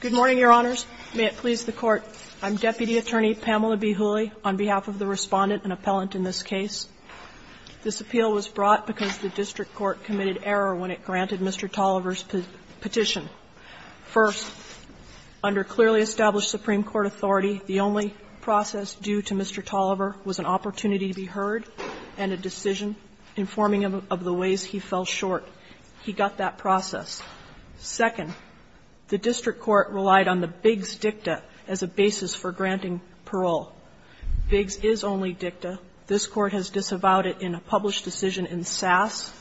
Good morning, Your Honors. May it please the Court, I'm Deputy Attorney Pamela B. Hooley, on behalf of the Respondent and Appellant in this case. This appeal was brought because the district court committed error when it granted Mr. Tolliver's petition. First, under clearly established Supreme Court authority, the only process due to Mr. Tolliver was an opportunity to be heard and a decision informing him of the ways he fell short. He got that process. Second, the district court relied on the Biggs dicta as a basis for granting parole. Biggs is only dicta. This Court has disavowed it in a published decision in Sass.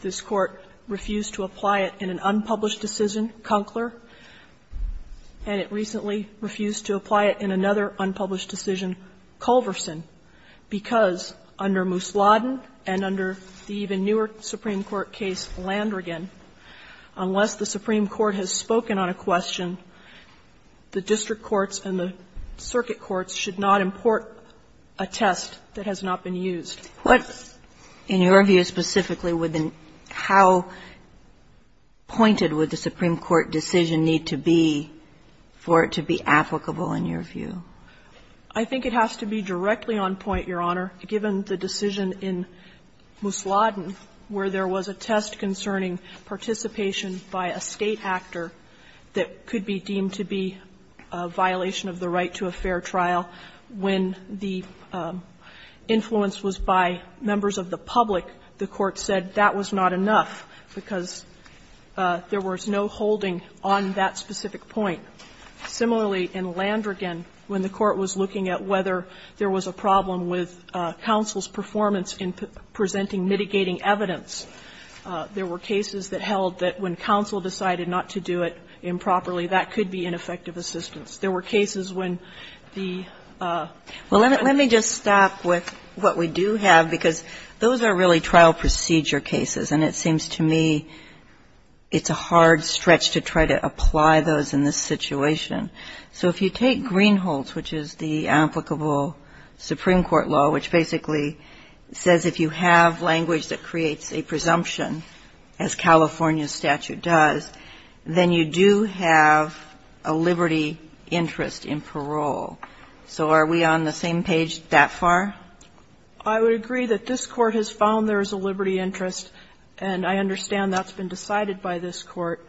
This Court refused to apply it in an unpublished decision, Conkler, and it recently refused to apply it in another unpublished decision, Culverson, because under Mousladen and under the even newer Supreme Court case, Landrigan, unless the Supreme Court has spoken on a question, the district courts and the circuit courts should not import a test that has not been used. Kagan in your view specifically, how pointed would the Supreme Court decision need to be for it to be applicable in your view? I think it has to be directly on point, Your Honor, given the decision in Mousladen where there was a test concerning participation by a State actor that could be deemed to be a violation of the right to a fair trial. When the influence was by members of the public, the Court said that was not enough because there was no holding on that specific point. Similarly, in Landrigan, when the Court was looking at whether there was a problem with counsel's performance in presenting mitigating evidence, there were cases that held that when counsel decided not to do it improperly, that could be ineffective There were cases when the other one was not effective. Well, let me just stop with what we do have, because those are really trial procedure cases, and it seems to me it's a hard stretch to try to apply those in this situation. So if you take Greenholz, which is the applicable Supreme Court law, which basically says if you have language that creates a presumption, as California statute does, then you do have a liberty interest in parole. So are we on the same page that far? I would agree that this Court has found there is a liberty interest, and I understand that's been decided by this Court.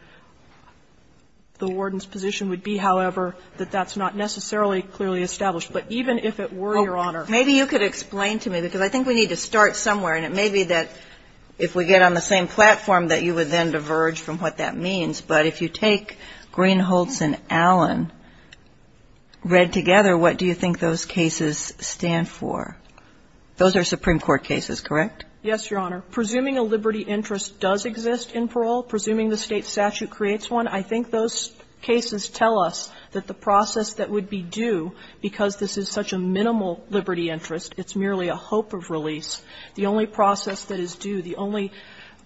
The warden's position would be, however, that that's not necessarily clearly established. But even if it were, Your Honor ---- Maybe you could explain to me, because I think we need to start somewhere, and it may be that if we get on the same platform that you would then diverge from what that means. But if you take Greenholz and Allen read together, what do you think those cases stand for? Those are Supreme Court cases, correct? Yes, Your Honor. Presuming a liberty interest does exist in parole, presuming the State statute creates one, I think those cases tell us that the process that would be due, because this is such a minimal liberty interest, it's merely a hope of release, the only process that is due, the only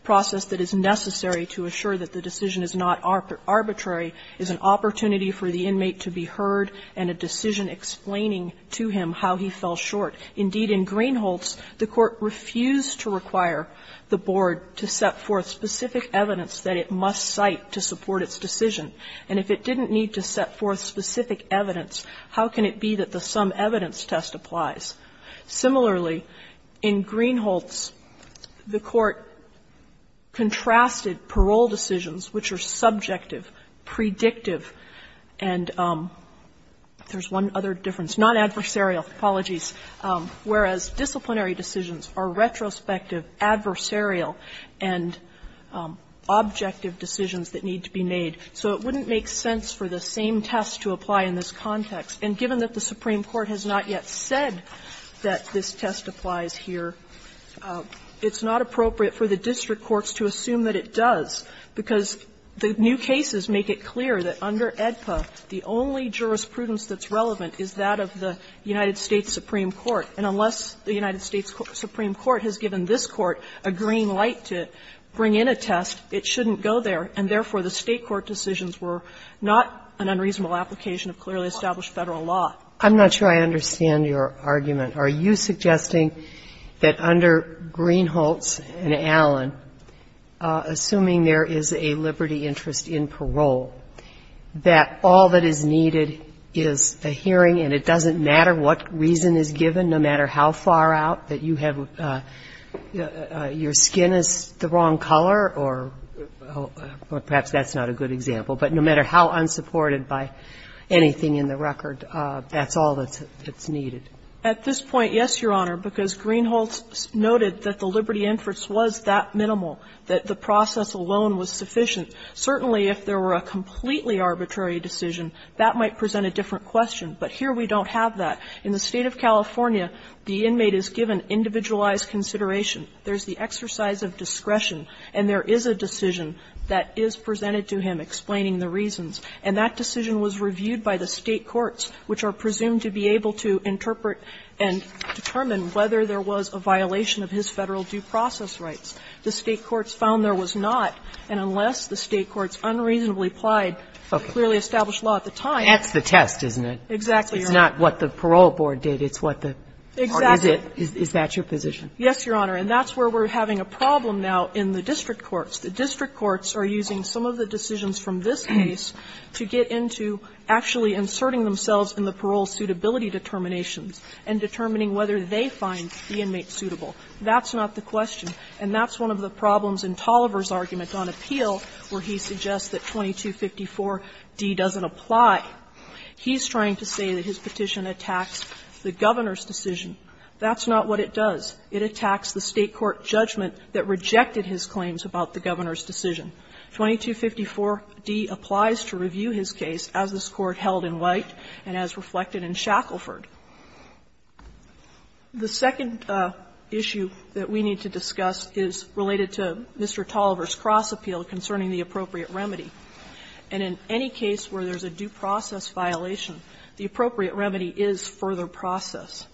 process that is necessary to assure that the decision is not arbitrary, is an opportunity for the inmate to be heard and a decision explaining to him how he fell short. Indeed, in Greenholz, the Court refused to require the board to set forth specific evidence that it must cite to support its decision. And if it didn't need to set forth specific evidence, how can it be that the sum evidence test applies? Similarly, in Greenholz, the Court contrasted parole decisions, which are subjective, predictive, and there's one other difference, non-adversarial, apologies, whereas disciplinary decisions are retrospective, adversarial, and objective decisions that need to be made. So it wouldn't make sense for the same test to apply in this context. And given that the Supreme Court has not yet said that this test applies here, it's not appropriate for the district courts to assume that it does, because the new cases make it clear that under AEDPA, the only jurisprudence that's relevant is that of the United States Supreme Court. And unless the United States Supreme Court has given this Court a green light to bring in a test, it shouldn't go there, and therefore, the State court decisions were not an unreasonable application of clearly established Federal law. I'm not sure I understand your argument. Are you suggesting that under Greenholz and Allen, assuming there is a liberty interest in parole, that all that is needed is a hearing, and it doesn't matter what reason is given, no matter how far out, that you have your skin is the wrong color, or perhaps that's not a good example, but no matter how unsupported by anything in the record, that's all that's needed? At this point, yes, Your Honor, because Greenholz noted that the liberty interest was that minimal, that the process alone was sufficient, certainly if there were a completely arbitrary decision, that might present a different question. But here we don't have that. In the State of California, the inmate is given individualized consideration. There's the exercise of discretion, and there is a decision that is presented to him explaining the reasons. And that decision was reviewed by the State courts, which are presumed to be able to interpret and determine whether there was a violation of his Federal due process rights. The State courts found there was not, and unless the State courts unreasonably applied the clearly established law at the time. Kagan. That's the test, isn't it? Exactly, Your Honor. It's not what the parole board did. It's what the parties did. Is that your position? Yes, Your Honor. And that's where we're having a problem now in the district courts. The district courts are using some of the decisions from this case to get into actually inserting themselves in the parole suitability determinations and determining whether they find the inmate suitable. That's not the question, and that's one of the problems in Tolliver's argument on appeal where he suggests that 2254d doesn't apply. He's trying to say that his petition attacks the Governor's decision. That's not what it does. It attacks the State court judgment that rejected his claims about the Governor's decision. 2254d applies to review his case as this Court held in White and as reflected in Shackleford. The second issue that we need to discuss is related to Mr. Tolliver's cross-appeal concerning the appropriate remedy. And in any case where there's a due process violation, the appropriate remedy is further process.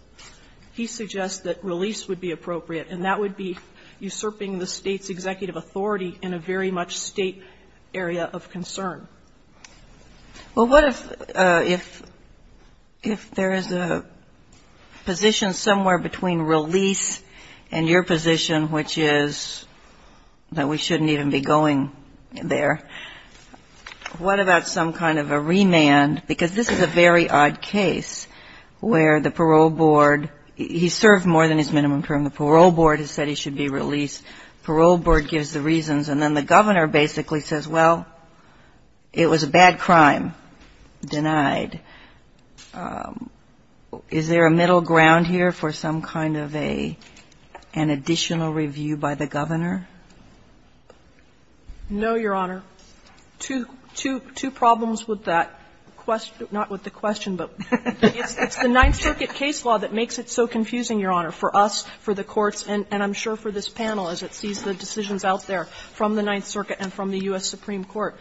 He suggests that release would be appropriate, and that would be usurping the State's And I think that's a very large State area of concern. Well, what if there is a position somewhere between release and your position, which is that we shouldn't even be going there? What about some kind of a remand? Because this is a very odd case where the parole board, he served more than his minimum term. And the parole board has said he should be released. Parole board gives the reasons, and then the Governor basically says, well, it was a bad crime, denied. Is there a middle ground here for some kind of an additional review by the Governor? No, Your Honor. Two problems with that question not with the question, but it's the Ninth Circuit case law that makes it so confusing, Your Honor, for us, for the courts, and I'm sure for this panel as it sees the decisions out there from the Ninth Circuit and from the U.S. Supreme Court.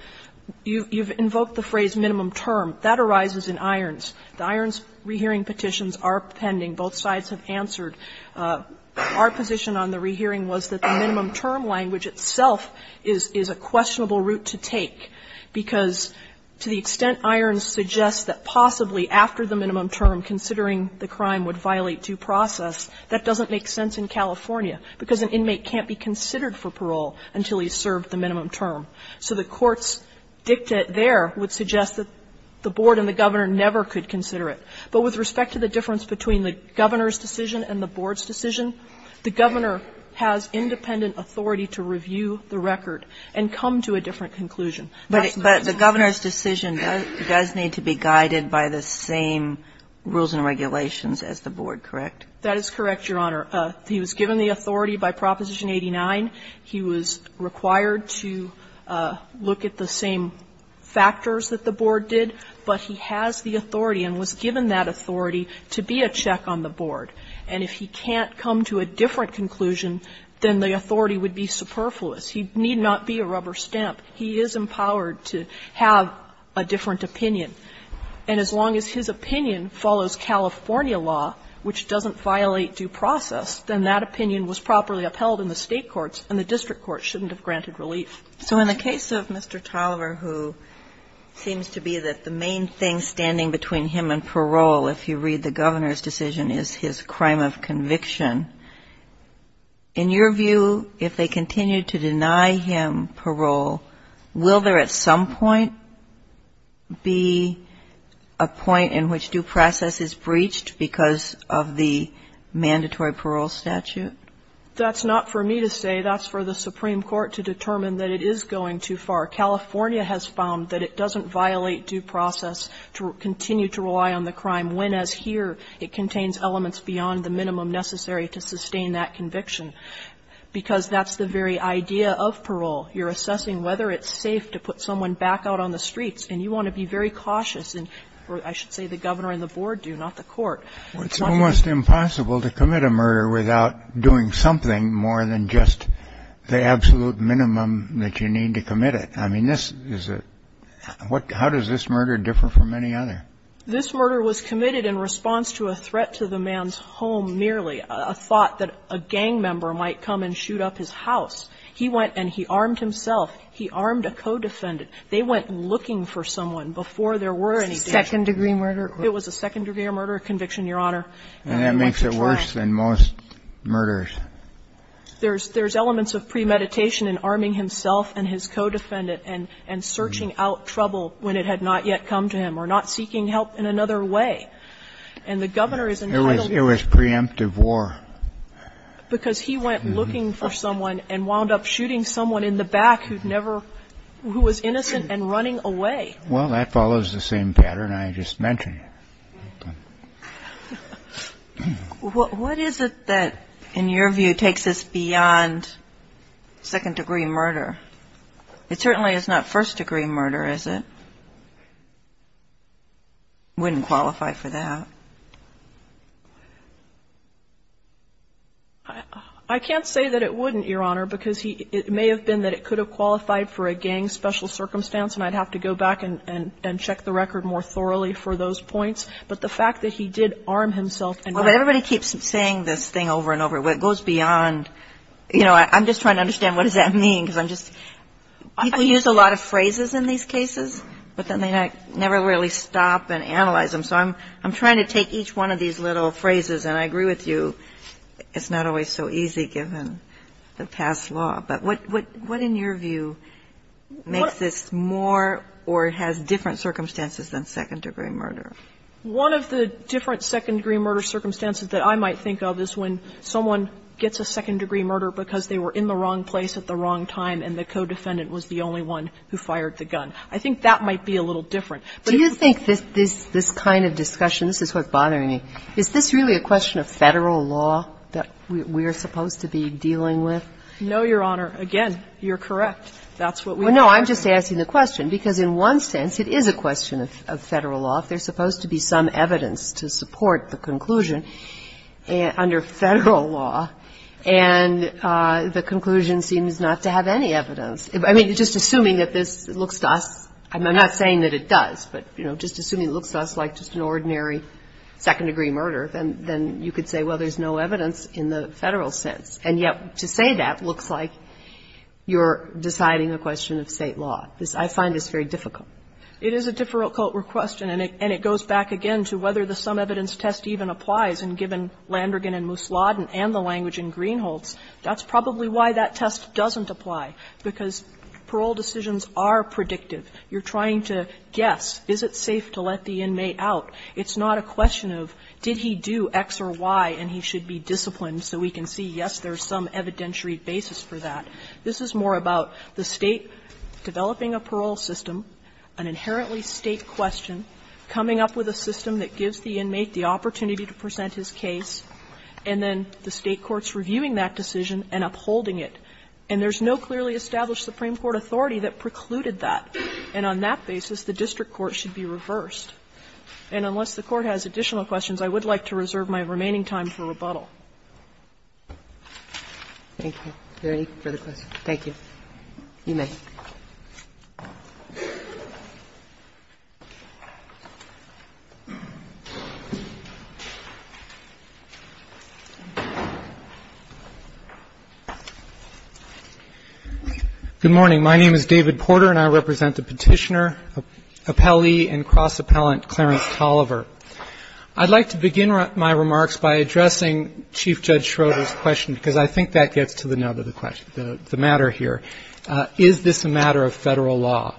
You've invoked the phrase minimum term. That arises in Irons. The Irons rehearing petitions are pending. Both sides have answered. Our position on the rehearing was that the minimum term language itself is a questionable route to take, because to the extent Irons suggests that possibly after the minimum term, considering the crime would violate due process, that doesn't make sense in California, because an inmate can't be considered for parole until he's served the minimum term. So the courts' dicta there would suggest that the board and the Governor never could consider it. But with respect to the difference between the Governor's decision and the board's decision, the Governor has independent authority to review the record and come to a different conclusion. But the Governor's decision does need to be guided by the same rules and regulations as the board, correct? That is correct, Your Honor. He was given the authority by Proposition 89. He was required to look at the same factors that the board did, but he has the authority and was given that authority to be a check on the board. And if he can't come to a different conclusion, then the authority would be superfluous. He need not be a rubber stamp. He is empowered to have a different opinion. And as long as his opinion follows California law, which doesn't violate due process, then that opinion was properly upheld in the State courts, and the district courts shouldn't have granted relief. So in the case of Mr. Tolliver, who seems to be that the main thing standing between him and parole, if you read the Governor's decision, is his crime of conviction, in your view, if they continue to deny him parole, will there at some point be a point in which due process is breached because of the mandatory parole statute? That's not for me to say. That's for the Supreme Court to determine that it is going too far. California has found that it doesn't violate due process to continue to rely on the crime when, as here, it contains elements beyond the minimum necessary to sustain that conviction because that's the very idea of parole. You're assessing whether it's safe to put someone back out on the streets, and you want to be very cautious, and I should say the Governor and the board do, not the court. It's almost impossible to commit a murder without doing something more than just the absolute minimum that you need to commit it. I mean, this is a – how does this murder differ from any other? This murder was committed in response to a threat to the man's home merely, a thought that a gang member might come and shoot up his house. He went and he armed himself. He armed a co-defendant. They went looking for someone before there were any deaths. Second-degree murder? It was a second-degree murder conviction, Your Honor. And that makes it worse than most murders. There's elements of premeditation in arming himself and his co-defendant and searching out trouble when it had not yet come to him or not seeking help in another And the Governor is entitled to do that. It was preemptive war. Because he went looking for someone and wound up shooting someone in the back who'd never – who was innocent and running away. Well, that follows the same pattern I just mentioned. What is it that, in your view, takes this beyond second-degree murder? It certainly is not first-degree murder, is it? It wouldn't qualify for that. I can't say that it wouldn't, Your Honor, because it may have been that it could have qualified for a gang special circumstance, and I'd have to go back and check the record more thoroughly for those points. But the fact that he did arm himself and not seek help in another case is not first-degree murder. Well, but everybody keeps saying this thing over and over, it goes beyond, you know, I'm just trying to understand what does that mean, because I'm just – people use a lot of phrases in these cases, but then they never really stop and analyze them. So I'm trying to take each one of these little phrases, and I agree with you, it's not always so easy given the past law. But what, in your view, makes this more or has different circumstances than second-degree murder? One of the different second-degree murder circumstances that I might think of is when someone gets a second-degree murder because they were in the wrong place at the wrong time and the co-defendant was the only one who fired the gun. I think that might be a little different. Do you think this kind of discussion, this is what's bothering me, is this really a question of Federal law that we are supposed to be dealing with? No, Your Honor. Again, you're correct. That's what we are. Well, no, I'm just asking the question, because in one sense it is a question of Federal law if there's supposed to be some evidence to support the conclusion under Federal law, and the conclusion seems not to have any evidence. I mean, just assuming that this looks to us – I'm not saying that it does, but, you know, just assuming it looks to us like just an ordinary second-degree murder, then you could say, well, there's no evidence in the Federal sense. And yet to say that looks like you're deciding a question of State law. I find this very difficult. It is a difficult question, and it goes back again to whether the sum evidence test even applies, and given Landergan and Mousladen and the language in Greenholz, that's probably why that test doesn't apply, because parole decisions are predictive. You're trying to guess, is it safe to let the inmate out? It's not a question of did he do X or Y and he should be disciplined so we can see, yes, there's some evidentiary basis for that. This is more about the State developing a parole system, an inherently State question, coming up with a system that gives the inmate the opportunity to present his case, and then the State court's reviewing that decision and upholding it. And there's no clearly established Supreme Court authority that precluded that, and on that basis the district court should be reversed. And unless the Court has additional questions, I would like to reserve my remaining time for rebuttal. Thank you. Are there any further questions? Thank you. You may. Good morning. My name is David Porter, and I represent the Petitioner, Appellee, and Cross Appellant Clarence Tolliver. I'd like to begin my remarks by addressing Chief Judge Schroeder's question, because I think that gets to the nub of the question, the matter here. Is this a matter of Federal law?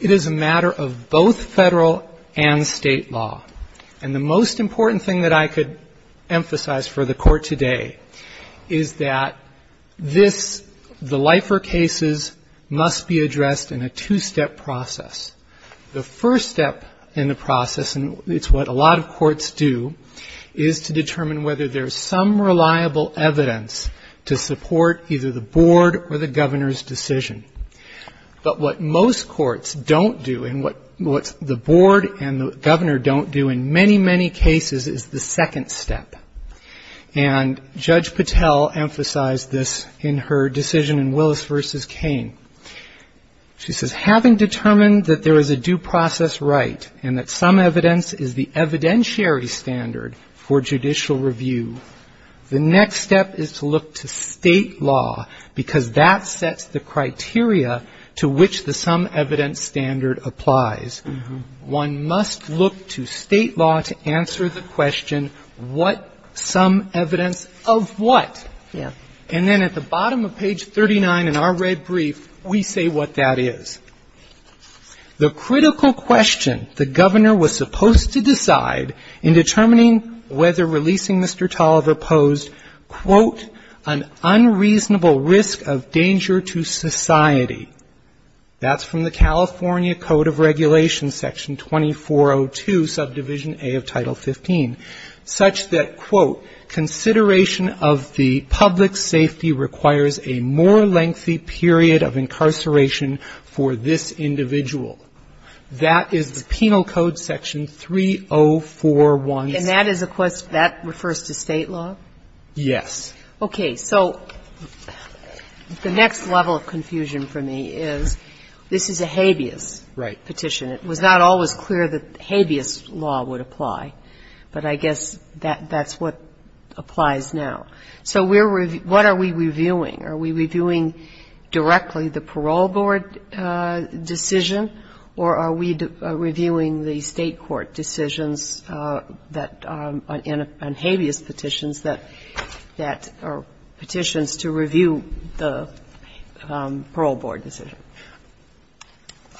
It is a matter of both Federal and State law. And the most important thing that I could emphasize for the Court today is that this, the Lifer cases, must be addressed in a two-step process. The first step in the process, and it's what a lot of courts do, is to determine whether there's some reliable evidence to support either the Board or the Governor's decision. But what most courts don't do, and what the Board and the Governor don't do in many, many cases, is the second step. And Judge Patel emphasized this in her decision in Willis v. Kane. She says, having determined that there is a due process right and that some evidence is the evidentiary standard for judicial review, the next step is to look to State law, because that sets the criteria to which the some evidence standard applies. One must look to State law to answer the question, what some evidence of what? And then at the bottom of page 39 in our red brief, we say what that is. The critical question the Governor was supposed to decide in determining whether releasing Mr. Tolliver posed, quote, an unreasonable risk of danger to society, that's from the California Code of Regulations, Section 2402, subdivision A of Title 15, such that, quote, consideration of the public safety requires a more lengthy period of incarceration for this individual. That is the Penal Code, Section 3041. And that is a question, that refers to State law? Yes. Okay. So the next level of confusion for me is, this is a habeas petition. Right. It was not always clear that habeas law would apply. But I guess that's what applies now. So we're reviewing – what are we reviewing? Are we reviewing directly the parole board decision, or are we reviewing the State court decisions that – on habeas petitions that are petitions to review the parole board decision?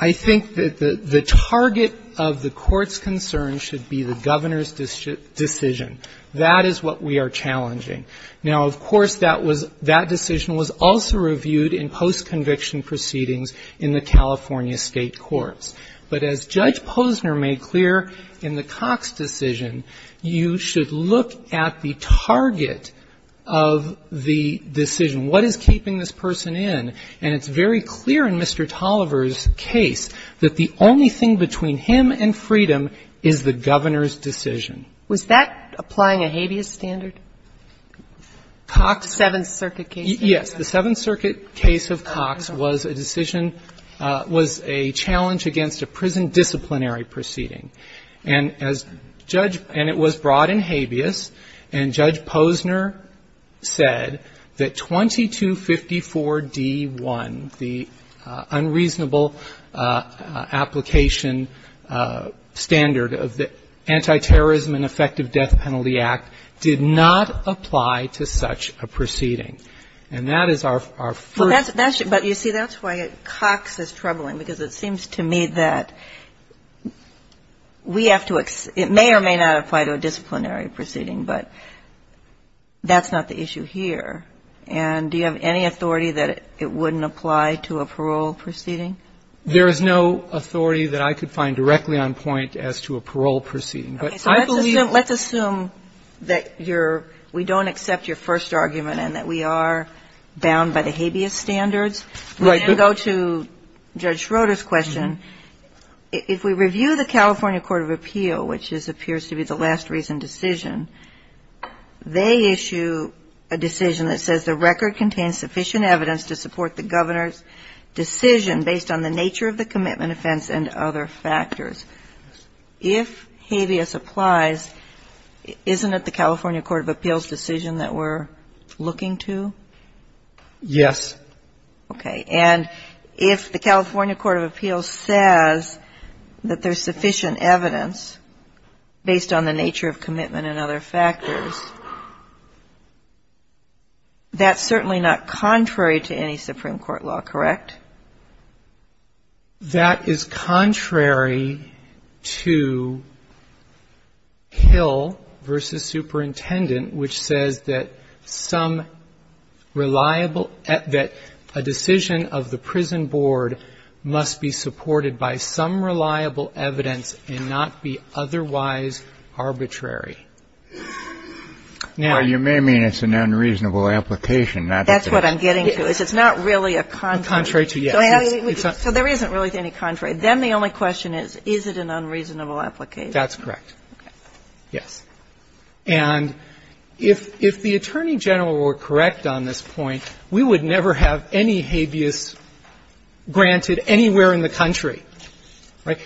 I think that the target of the Court's concern should be the Governor's decision decision. That is what we are challenging. Now, of course, that was – that decision was also reviewed in post-conviction proceedings in the California State courts. But as Judge Posner made clear in the Cox decision, you should look at the target of the decision. What is keeping this person in? And it's very clear in Mr. Tolliver's case that the only thing between him and freedom is the Governor's decision. Was that applying a habeas standard? Cox? The Seventh Circuit case. Yes. The Seventh Circuit case of Cox was a decision – was a challenge against a prison disciplinary proceeding. And as Judge – and it was brought in habeas, and Judge Posner said that 2254D1, the standard of the Antiterrorism and Effective Death Penalty Act, did not apply to such a proceeding. And that is our first – But that's – but you see, that's why Cox is troubling, because it seems to me that we have to – it may or may not apply to a disciplinary proceeding, but that's not the issue here. And do you have any authority that it wouldn't apply to a parole proceeding? There is no authority that I could find directly on point as to a parole proceeding. But I believe – Okay. So let's assume – let's assume that you're – we don't accept your first argument and that we are bound by the habeas standards. Right. We can go to Judge Schroeder's question. If we review the California Court of Appeal, which appears to be the last reason decision, they issue a decision that says the record contains sufficient evidence to support the Governor's decision based on the nature of the commitment offense and other factors. If habeas applies, isn't it the California Court of Appeals decision that we're looking to? Yes. Okay. And if the California Court of Appeals says that there's sufficient evidence based on the nature of commitment and other factors, that's certainly not contrary to any Supreme Court law, correct? That is contrary to Hill v. Superintendent, which says that some reliable – that a decision of the prison board must be supported by some reliable evidence and not be otherwise arbitrary. Well, you may mean it's an unreasonable application. That's what I'm getting to, is it's not really a contrary. Contrary to, yes. So there isn't really any contrary. Then the only question is, is it an unreasonable application? That's correct. Yes. And if the Attorney General were correct on this point, we would never have any habeas granted anywhere in the country. Right?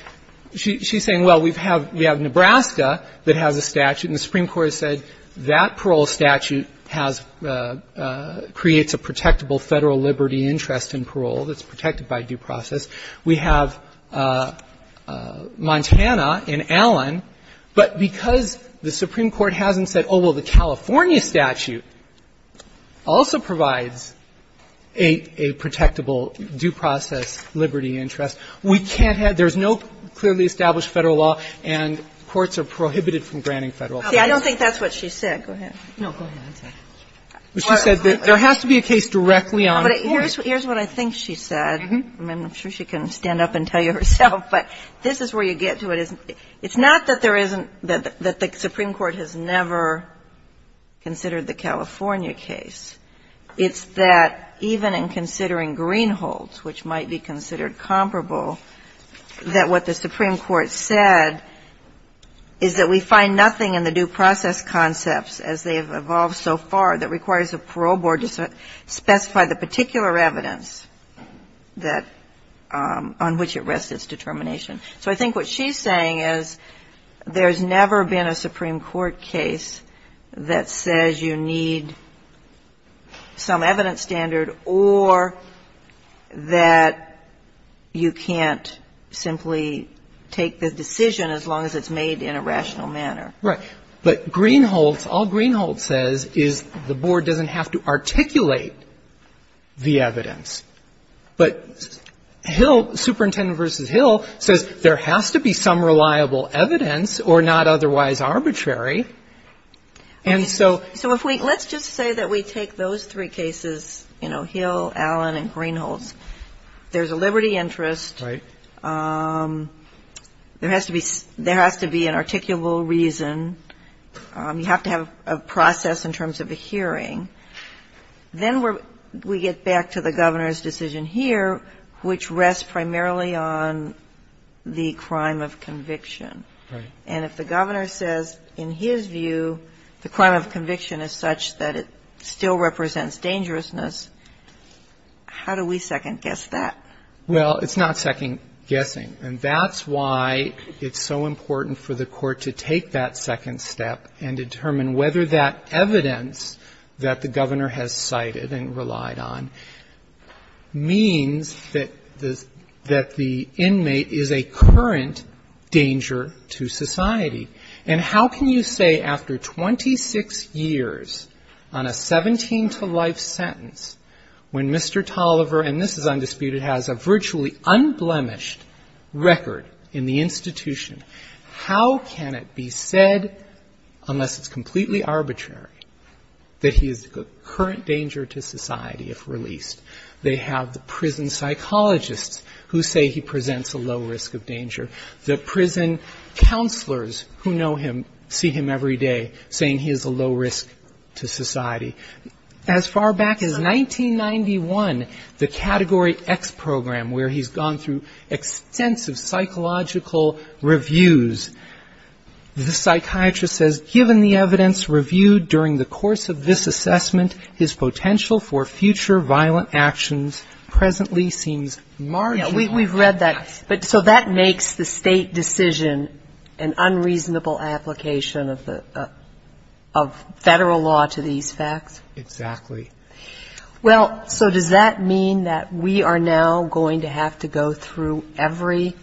She's saying, well, we have Nebraska that has a statute and the Supreme Court has said that parole statute has – creates a protectable Federal liberty interest in parole that's protected by due process. We have Montana and Allen, but because the Supreme Court hasn't said, oh, well, the California statute also provides a – a protectable due process liberty interest, we can't have – there's no clearly established Federal law and courts are prohibited from granting Federal laws. See, I don't think that's what she said. Go ahead. No, go ahead. She said there has to be a case directly on the court. Here's what I think she said. I'm sure she can stand up and tell you herself, but this is where you get to it. It's not that there isn't – that the Supreme Court has never considered the California case. It's that even in considering Greenholds, which might be considered comparable, that what the Supreme Court said is that we find nothing in the due process concepts as they have evolved so far that requires the parole board to specify the particular evidence that – on which it rests its determination. So I think what she's saying is there's never been a Supreme Court case that says you need some decision as long as it's made in a rational manner. Right. But Greenholds – all Greenholds says is the board doesn't have to articulate the evidence. But Hill – Superintendent v. Hill says there has to be some reliable evidence or not otherwise arbitrary. And so – So if we – let's just say that we take those three cases, you know, Hill, Allen, and Greenholds. There's a liberty interest. Right. There has to be – there has to be an articulable reason. You have to have a process in terms of a hearing. Then we get back to the Governor's decision here, which rests primarily on the crime of conviction. Right. And if the Governor says in his view the crime of conviction is such that it still represents dangerousness, how do we second-guess that? Well, it's not second-guessing. And that's why it's so important for the Court to take that second step and determine whether that evidence that the Governor has cited and relied on means that the inmate is a current danger to society. And how can you say after 26 years on a 17-to-life sentence when Mr. Tolliver – and this is undisputed – has a virtually unblemished record in the institution, how can it be said, unless it's completely arbitrary, that he is a current danger to society if released? They have the prison psychologists who say he presents a low risk of danger. The prison counselors who know him see him every day saying he is a low risk to society. As far back as 1991, the Category X program, where he's gone through extensive psychological reviews, the psychiatrist says, given the evidence reviewed during the course of this assessment, his potential for future violent actions presently seems marginal. We've read that. So that makes the State decision an unreasonable application of Federal law to these facts? Exactly. Well, so does that mean that we are now going to have to go through every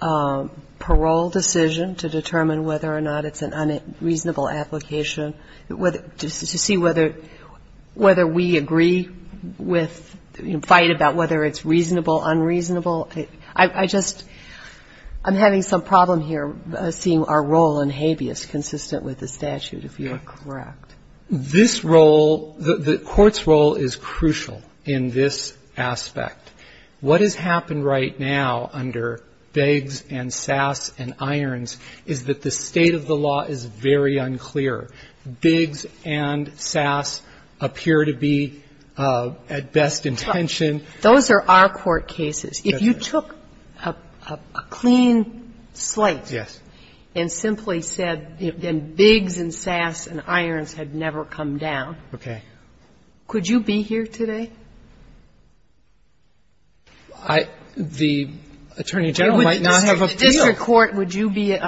parole decision to determine whether or not it's an unreasonable application, to see whether we agree with, fight about whether it's reasonable, unreasonable? I just – I'm having some problem here seeing our role in habeas consistent with the statute, if you are correct. This role – the Court's role is crucial in this aspect. What has happened right now under Beggs and Sass and Irons is that the state of the law is very unclear. Beggs and Sass appear to be at best intention. Those are our court cases. If you took a clean slate and simply said, then Beggs and Sass and Irons had never come down. Okay. Could you be here today? I – the Attorney General might not have appealed. The district court, would you be –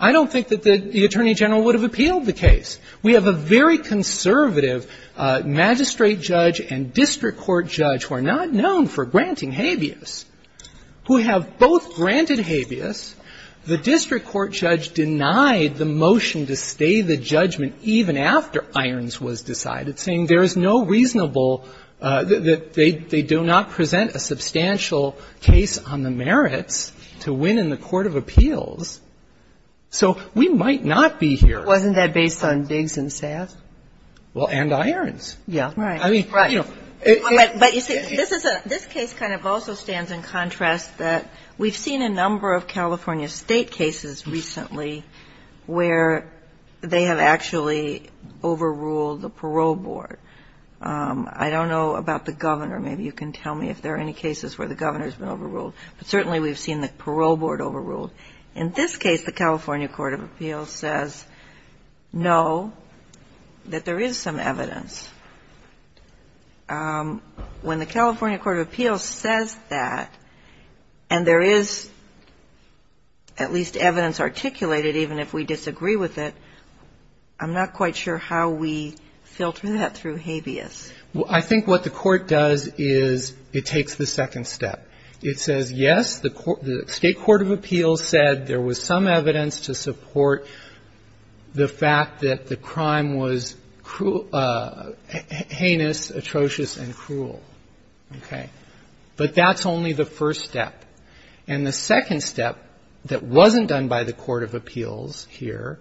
I don't think that the Attorney General would have appealed the case. We have a very conservative magistrate judge and district court judge who are not known for granting habeas, who have both granted habeas. The district court judge denied the motion to stay the judgment even after Irons was decided, saying there is no reasonable – that they do not present a substantial case on the merits to win in the court of appeals. So we might not be here. Wasn't that based on Beggs and Sass? Well, and Irons. Yeah. Right. I mean, you know. Right. But you see, this is a – this case kind of also stands in contrast that we've seen a number of California State cases recently where they have actually overruled the parole board. I don't know about the Governor. Maybe you can tell me if there are any cases where the Governor has been overruled. But certainly we've seen the parole board overruled. In this case, the California court of appeals says no, that there is some evidence. When the California court of appeals says that, and there is at least evidence articulated even if we disagree with it, I'm not quite sure how we filter that through habeas. Well, I think what the court does is it takes the second step. It says, yes, the state court of appeals said there was some evidence to support the fact that the crime was heinous, atrocious, and cruel. Okay. But that's only the first step. And the second step that wasn't done by the court of appeals here,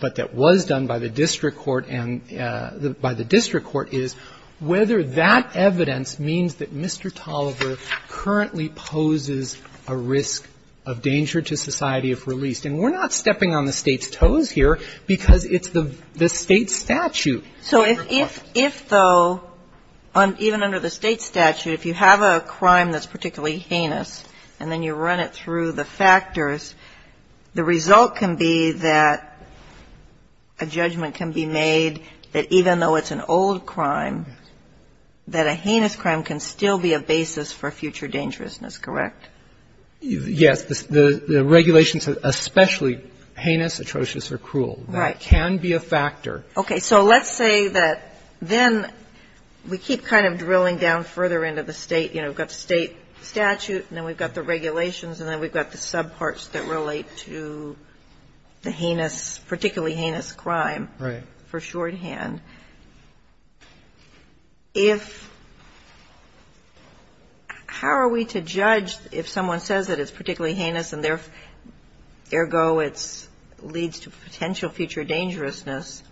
but that was done by the district court, is whether that evidence means that Mr. Tolliver currently poses a risk of danger to society if released. And we're not stepping on the State's toes here because it's the State statute. So if, though, even under the State statute, if you have a crime that's particularly heinous, and then you run it through the factors, the result can be that a judge can be made that even though it's an old crime, that a heinous crime can still be a basis for future dangerousness, correct? Yes. The regulations are especially heinous, atrocious, or cruel. Right. That can be a factor. Okay. So let's say that then we keep kind of drilling down further into the State. You know, we've got the State statute, and then we've got the regulations, and then we've got the subparts that relate to the heinous, particularly heinous crime. Right. For shorthand. If how are we to judge if someone says that it's particularly heinous and, ergo, it leads to potential future dangerousness,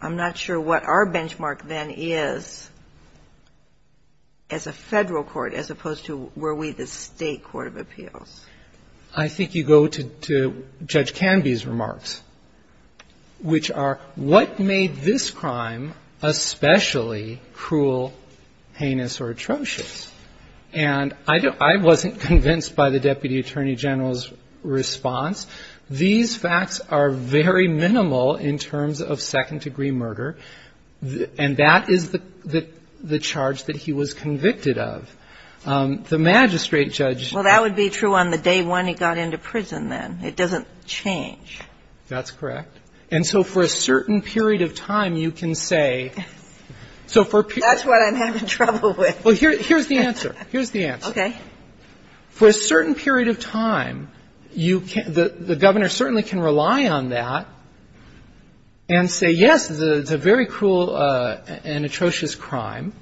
I'm not sure what our benchmark then is as a Federal court as opposed to were we the State court of appeals. I think you go to Judge Canby's remarks, which are what made this crime especially cruel, heinous, or atrocious? And I wasn't convinced by the Deputy Attorney General's response. These facts are very minimal in terms of second-degree murder, and that is the charge that he was convicted of. The magistrate judge. Well, that would be true on the day when he got into prison then. It doesn't change. That's correct. And so for a certain period of time, you can say. That's what I'm having trouble with. Well, here's the answer. Here's the answer. Okay. For a certain period of time, the Governor certainly can rely on that and say, yes, it's a very cruel and atrocious crime.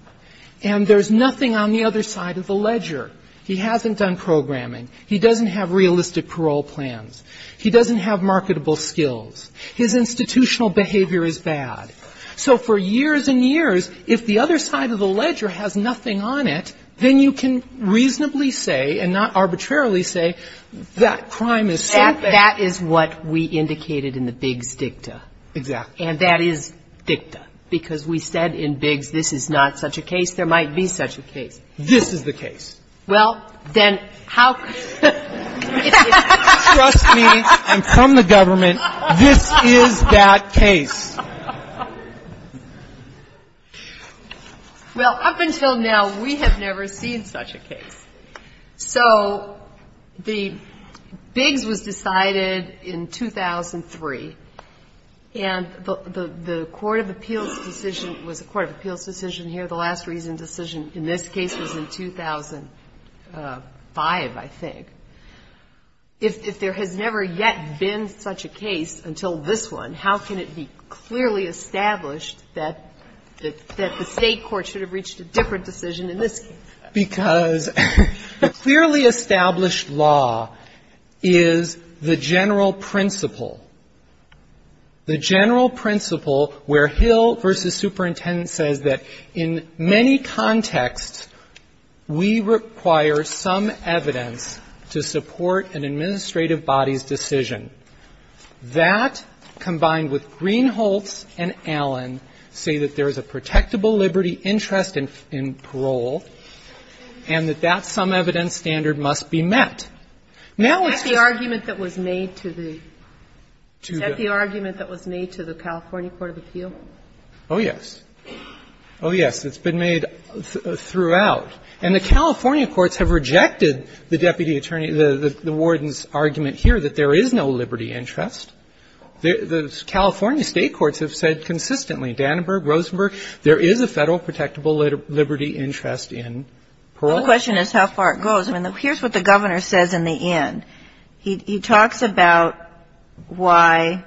And there's nothing on the other side of the ledger. He hasn't done programming. He doesn't have realistic parole plans. He doesn't have marketable skills. His institutional behavior is bad. So for years and years, if the other side of the ledger has nothing on it, then you can reasonably say and not arbitrarily say that crime is so bad. That is what we indicated in the Biggs Dicta. Exactly. And that is dicta. Because we said in Biggs this is not such a case. There might be such a case. This is the case. Well, then how. Trust me and come to government, this is that case. So the Biggs was decided in 2003. And the court of appeals decision was the court of appeals decision here, the last reason decision in this case was in 2005, I think. If there has never yet been such a case until this one, how can it be clearly established that the State court should have reached a different decision in this case? Because the clearly established law is the general principle, the general principle where Hill v. Superintendent says that in many contexts, we require some evidence to support an administrative body's decision. That, combined with Greenholtz and Allen, say that there is a protectable liberty interest in parole and that that some evidence standard must be met. Now it's just the argument that was made to the. Is that the argument that was made to the California court of appeals? Oh, yes. Oh, yes. It's been made throughout. And the California courts have rejected the deputy attorney, the warden's argument here that there is no liberty interest. The California State courts have said consistently, Danneberg, Rosenberg, there is a Federal protectable liberty interest in parole. The question is how far it goes. I mean, here's what the Governor says in the end. He talks about why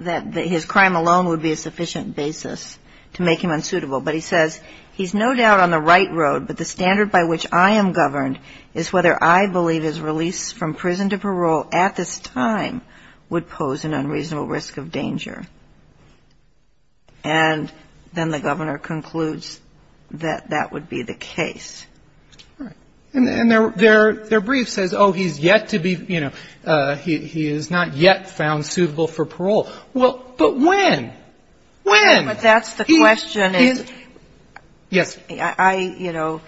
that his crime alone would be a sufficient basis to make him unsuitable. But he says, He's no doubt on the right road, but the standard by which I am governed is whether I believe his release from prison to parole at this time would pose an unreasonable risk of danger. And then the Governor concludes that that would be the case. All right. And their brief says, oh, he's yet to be, you know, he is not yet found suitable for parole. Well, but when? When? But that's the question. Yes. I, you know,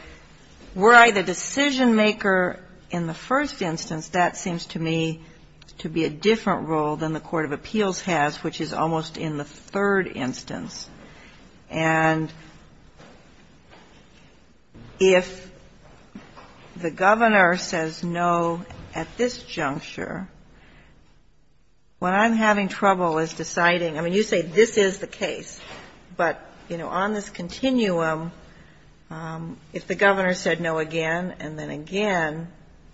were I the decision-maker in the first instance, that seems to me to be a different role than the court of appeals has, which is almost in the third instance. And if the Governor says no at this juncture, what I'm having trouble is deciding – I mean, you say this is the case, but, you know, on this continuum, if the Governor said no again and then again,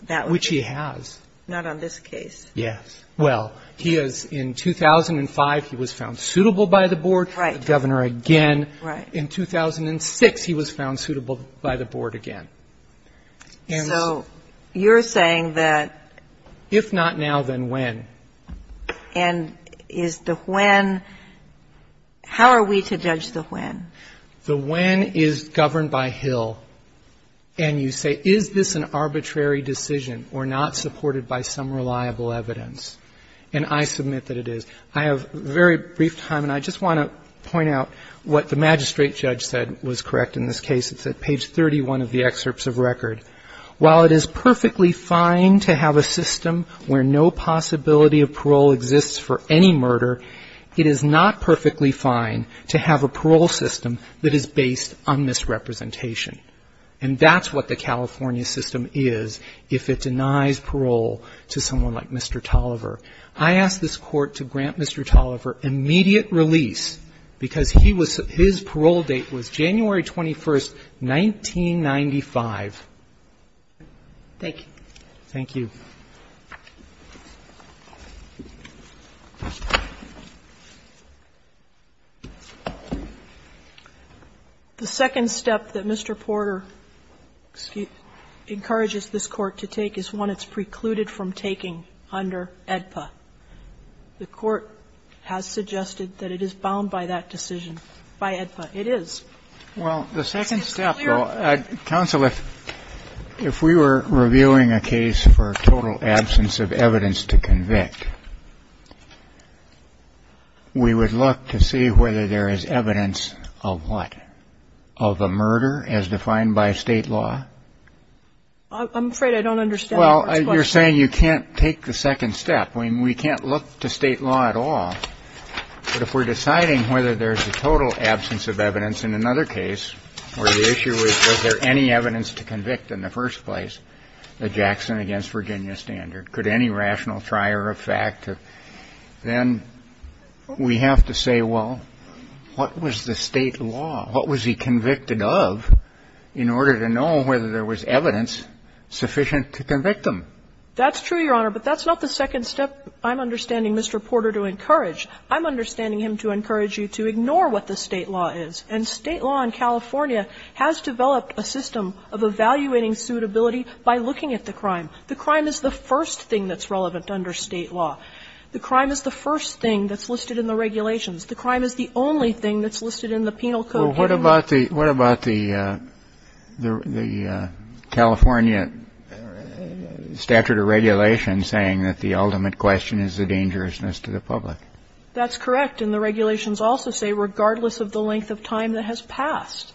that would be. Which he has. Not on this case. Yes. Well, he has in 2005, he was found suitable by the Board. Right. The Governor again. Right. In 2006, he was found suitable by the Board again. And so you're saying that if not now, then when? And is the when – how are we to judge the when? The when is governed by Hill, and you say is this an arbitrary decision or not supported by some reliable evidence? And I submit that it is. I have very brief time, and I just want to point out what the magistrate judge said was correct in this case. It's at page 31 of the excerpts of record. While it is perfectly fine to have a system where no possibility of parole exists for any murder, it is not perfectly fine to have a parole system that is based on misrepresentation. And that's what the California system is if it denies parole to someone like Mr. Tolliver. I ask this Court to grant Mr. Tolliver immediate release because he was – his parole date was January 21, 1995. Thank you. Thank you. The second step that Mr. Porter encourages this Court to take is one it's precluded from taking under AEDPA. The Court has suggested that it is bound by that decision, by AEDPA. It is. Well, the second step, though, counsel, if we were reviewing a case for total absence of evidence to convict, we would look to see whether there is evidence of what? Of a murder as defined by State law? I'm afraid I don't understand. Well, you're saying you can't take the second step. I mean, we can't look to State law at all. But if we're deciding whether there's a total absence of evidence in another case where the issue is was there any evidence to convict in the first place, the Jackson against Virginia standard, could any rational trier of fact, then we have to say, well, what was the State law? What was he convicted of in order to know whether there was evidence sufficient to convict him? That's true, Your Honor. But that's not the second step I'm understanding Mr. Porter to encourage. I'm understanding him to encourage you to ignore what the State law is. And State law in California has developed a system of evaluating suitability by looking at the crime. The crime is the first thing that's relevant under State law. The crime is the first thing that's listed in the regulations. The crime is the only thing that's listed in the penal code. Well, what about the California statute of regulations saying that the ultimate question is the dangerousness to the public? That's correct. And the regulations also say regardless of the length of time that has passed.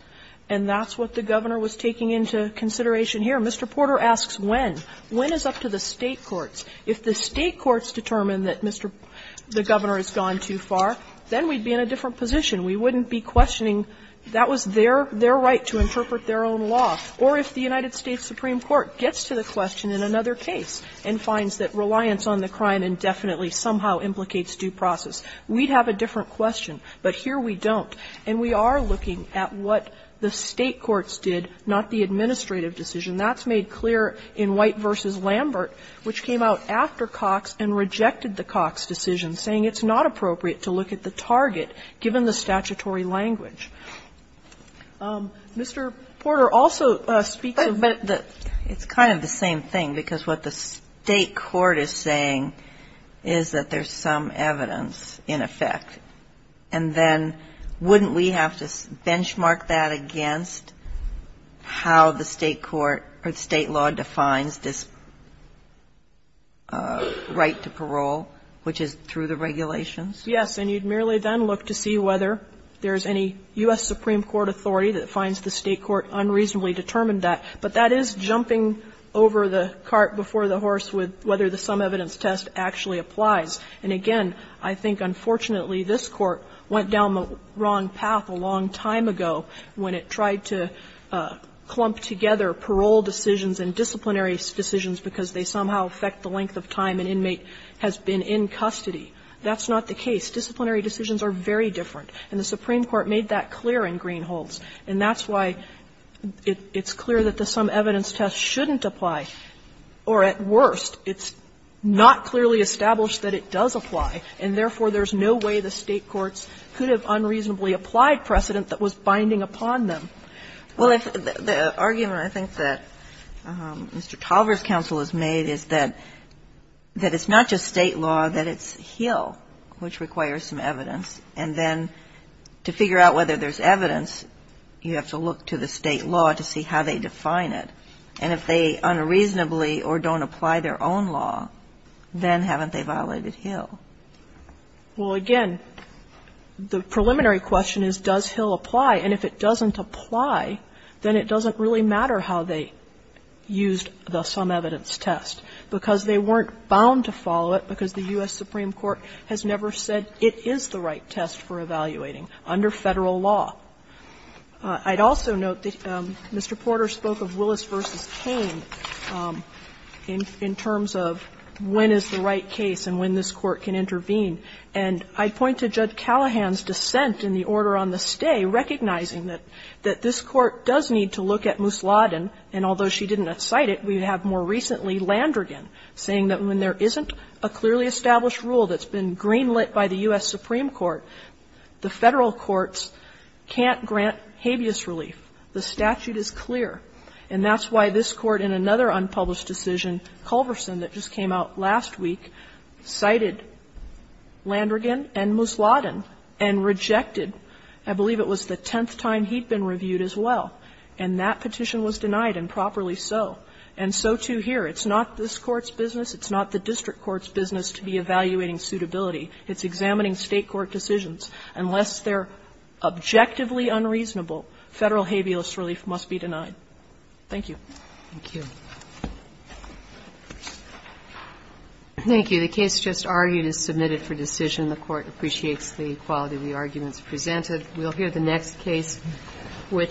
And that's what the Governor was taking into consideration here. Mr. Porter asks when. When is up to the State courts. If the State courts determine that the Governor has gone too far, then we'd be in a different position. We wouldn't be questioning that was their right to interpret their own law. Or if the United States Supreme Court gets to the question in another case and finds that reliance on the crime indefinitely somehow implicates due process. We'd have a different question. But here we don't. And we are looking at what the State courts did, not the administrative decision. That's made clear in White v. Lambert, which came out after Cox and rejected the Cox decision, saying it's not appropriate to look at the target given the statutory language. Mr. Porter also speaks of the. It's kind of the same thing, because what the State court is saying is that there's some evidence in effect. And then wouldn't we have to benchmark that against how the State court or the State law defines this right to parole, which is through the regulations? Yes. And you'd merely then look to see whether there's any U.S. Supreme Court authority that finds the State court unreasonably determined that. But that is jumping over the cart before the horse with whether the sum evidence test actually applies. And, again, I think, unfortunately, this Court went down the wrong path a long time ago when it tried to clump together parole decisions and disciplinary decisions because they somehow affect the length of time an inmate has been in custody. That's not the case. Disciplinary decisions are very different. And the Supreme Court made that clear in Greenholds. And that's why it's clear that the sum evidence test shouldn't apply. Or, at worst, it's not clearly established that it does apply. And, therefore, there's no way the State courts could have unreasonably applied a law that was binding upon them. Well, if the argument I think that Mr. Tolver's counsel has made is that it's not just State law, that it's Hill which requires some evidence. And then to figure out whether there's evidence, you have to look to the State law to see how they define it. And if they unreasonably or don't apply their own law, then haven't they violated Hill? Well, again, the preliminary question is, does Hill apply? And if it doesn't apply, then it doesn't really matter how they used the sum evidence test, because they weren't bound to follow it, because the U.S. Supreme Court has never said it is the right test for evaluating under Federal law. I'd also note that Mr. Porter spoke of Willis v. Cain in terms of when is the right case and when this Court can intervene. And I'd point to Judge Callahan's dissent in the order on the stay, recognizing that this Court does need to look at Moosladen, and although she didn't cite it, we have more recently Landrigan saying that when there isn't a clearly established rule that's been greenlit by the U.S. Supreme Court, the Federal courts can't grant habeas relief. The statute is clear. And that's why this Court in another unpublished decision, Culverson, that just came out last week, cited Landrigan and Moosladen and rejected, I believe it was the tenth time he'd been reviewed as well, and that petition was denied, and properly so. And so, too, here. It's not this Court's business. It's not the district court's business to be evaluating suitability. It's examining State court decisions. Unless they're objectively unreasonable, Federal habeas relief must be denied. Thank you. Thank you. The case just argued is submitted for decision. The Court appreciates the quality of the arguments presented. We'll hear the next case, which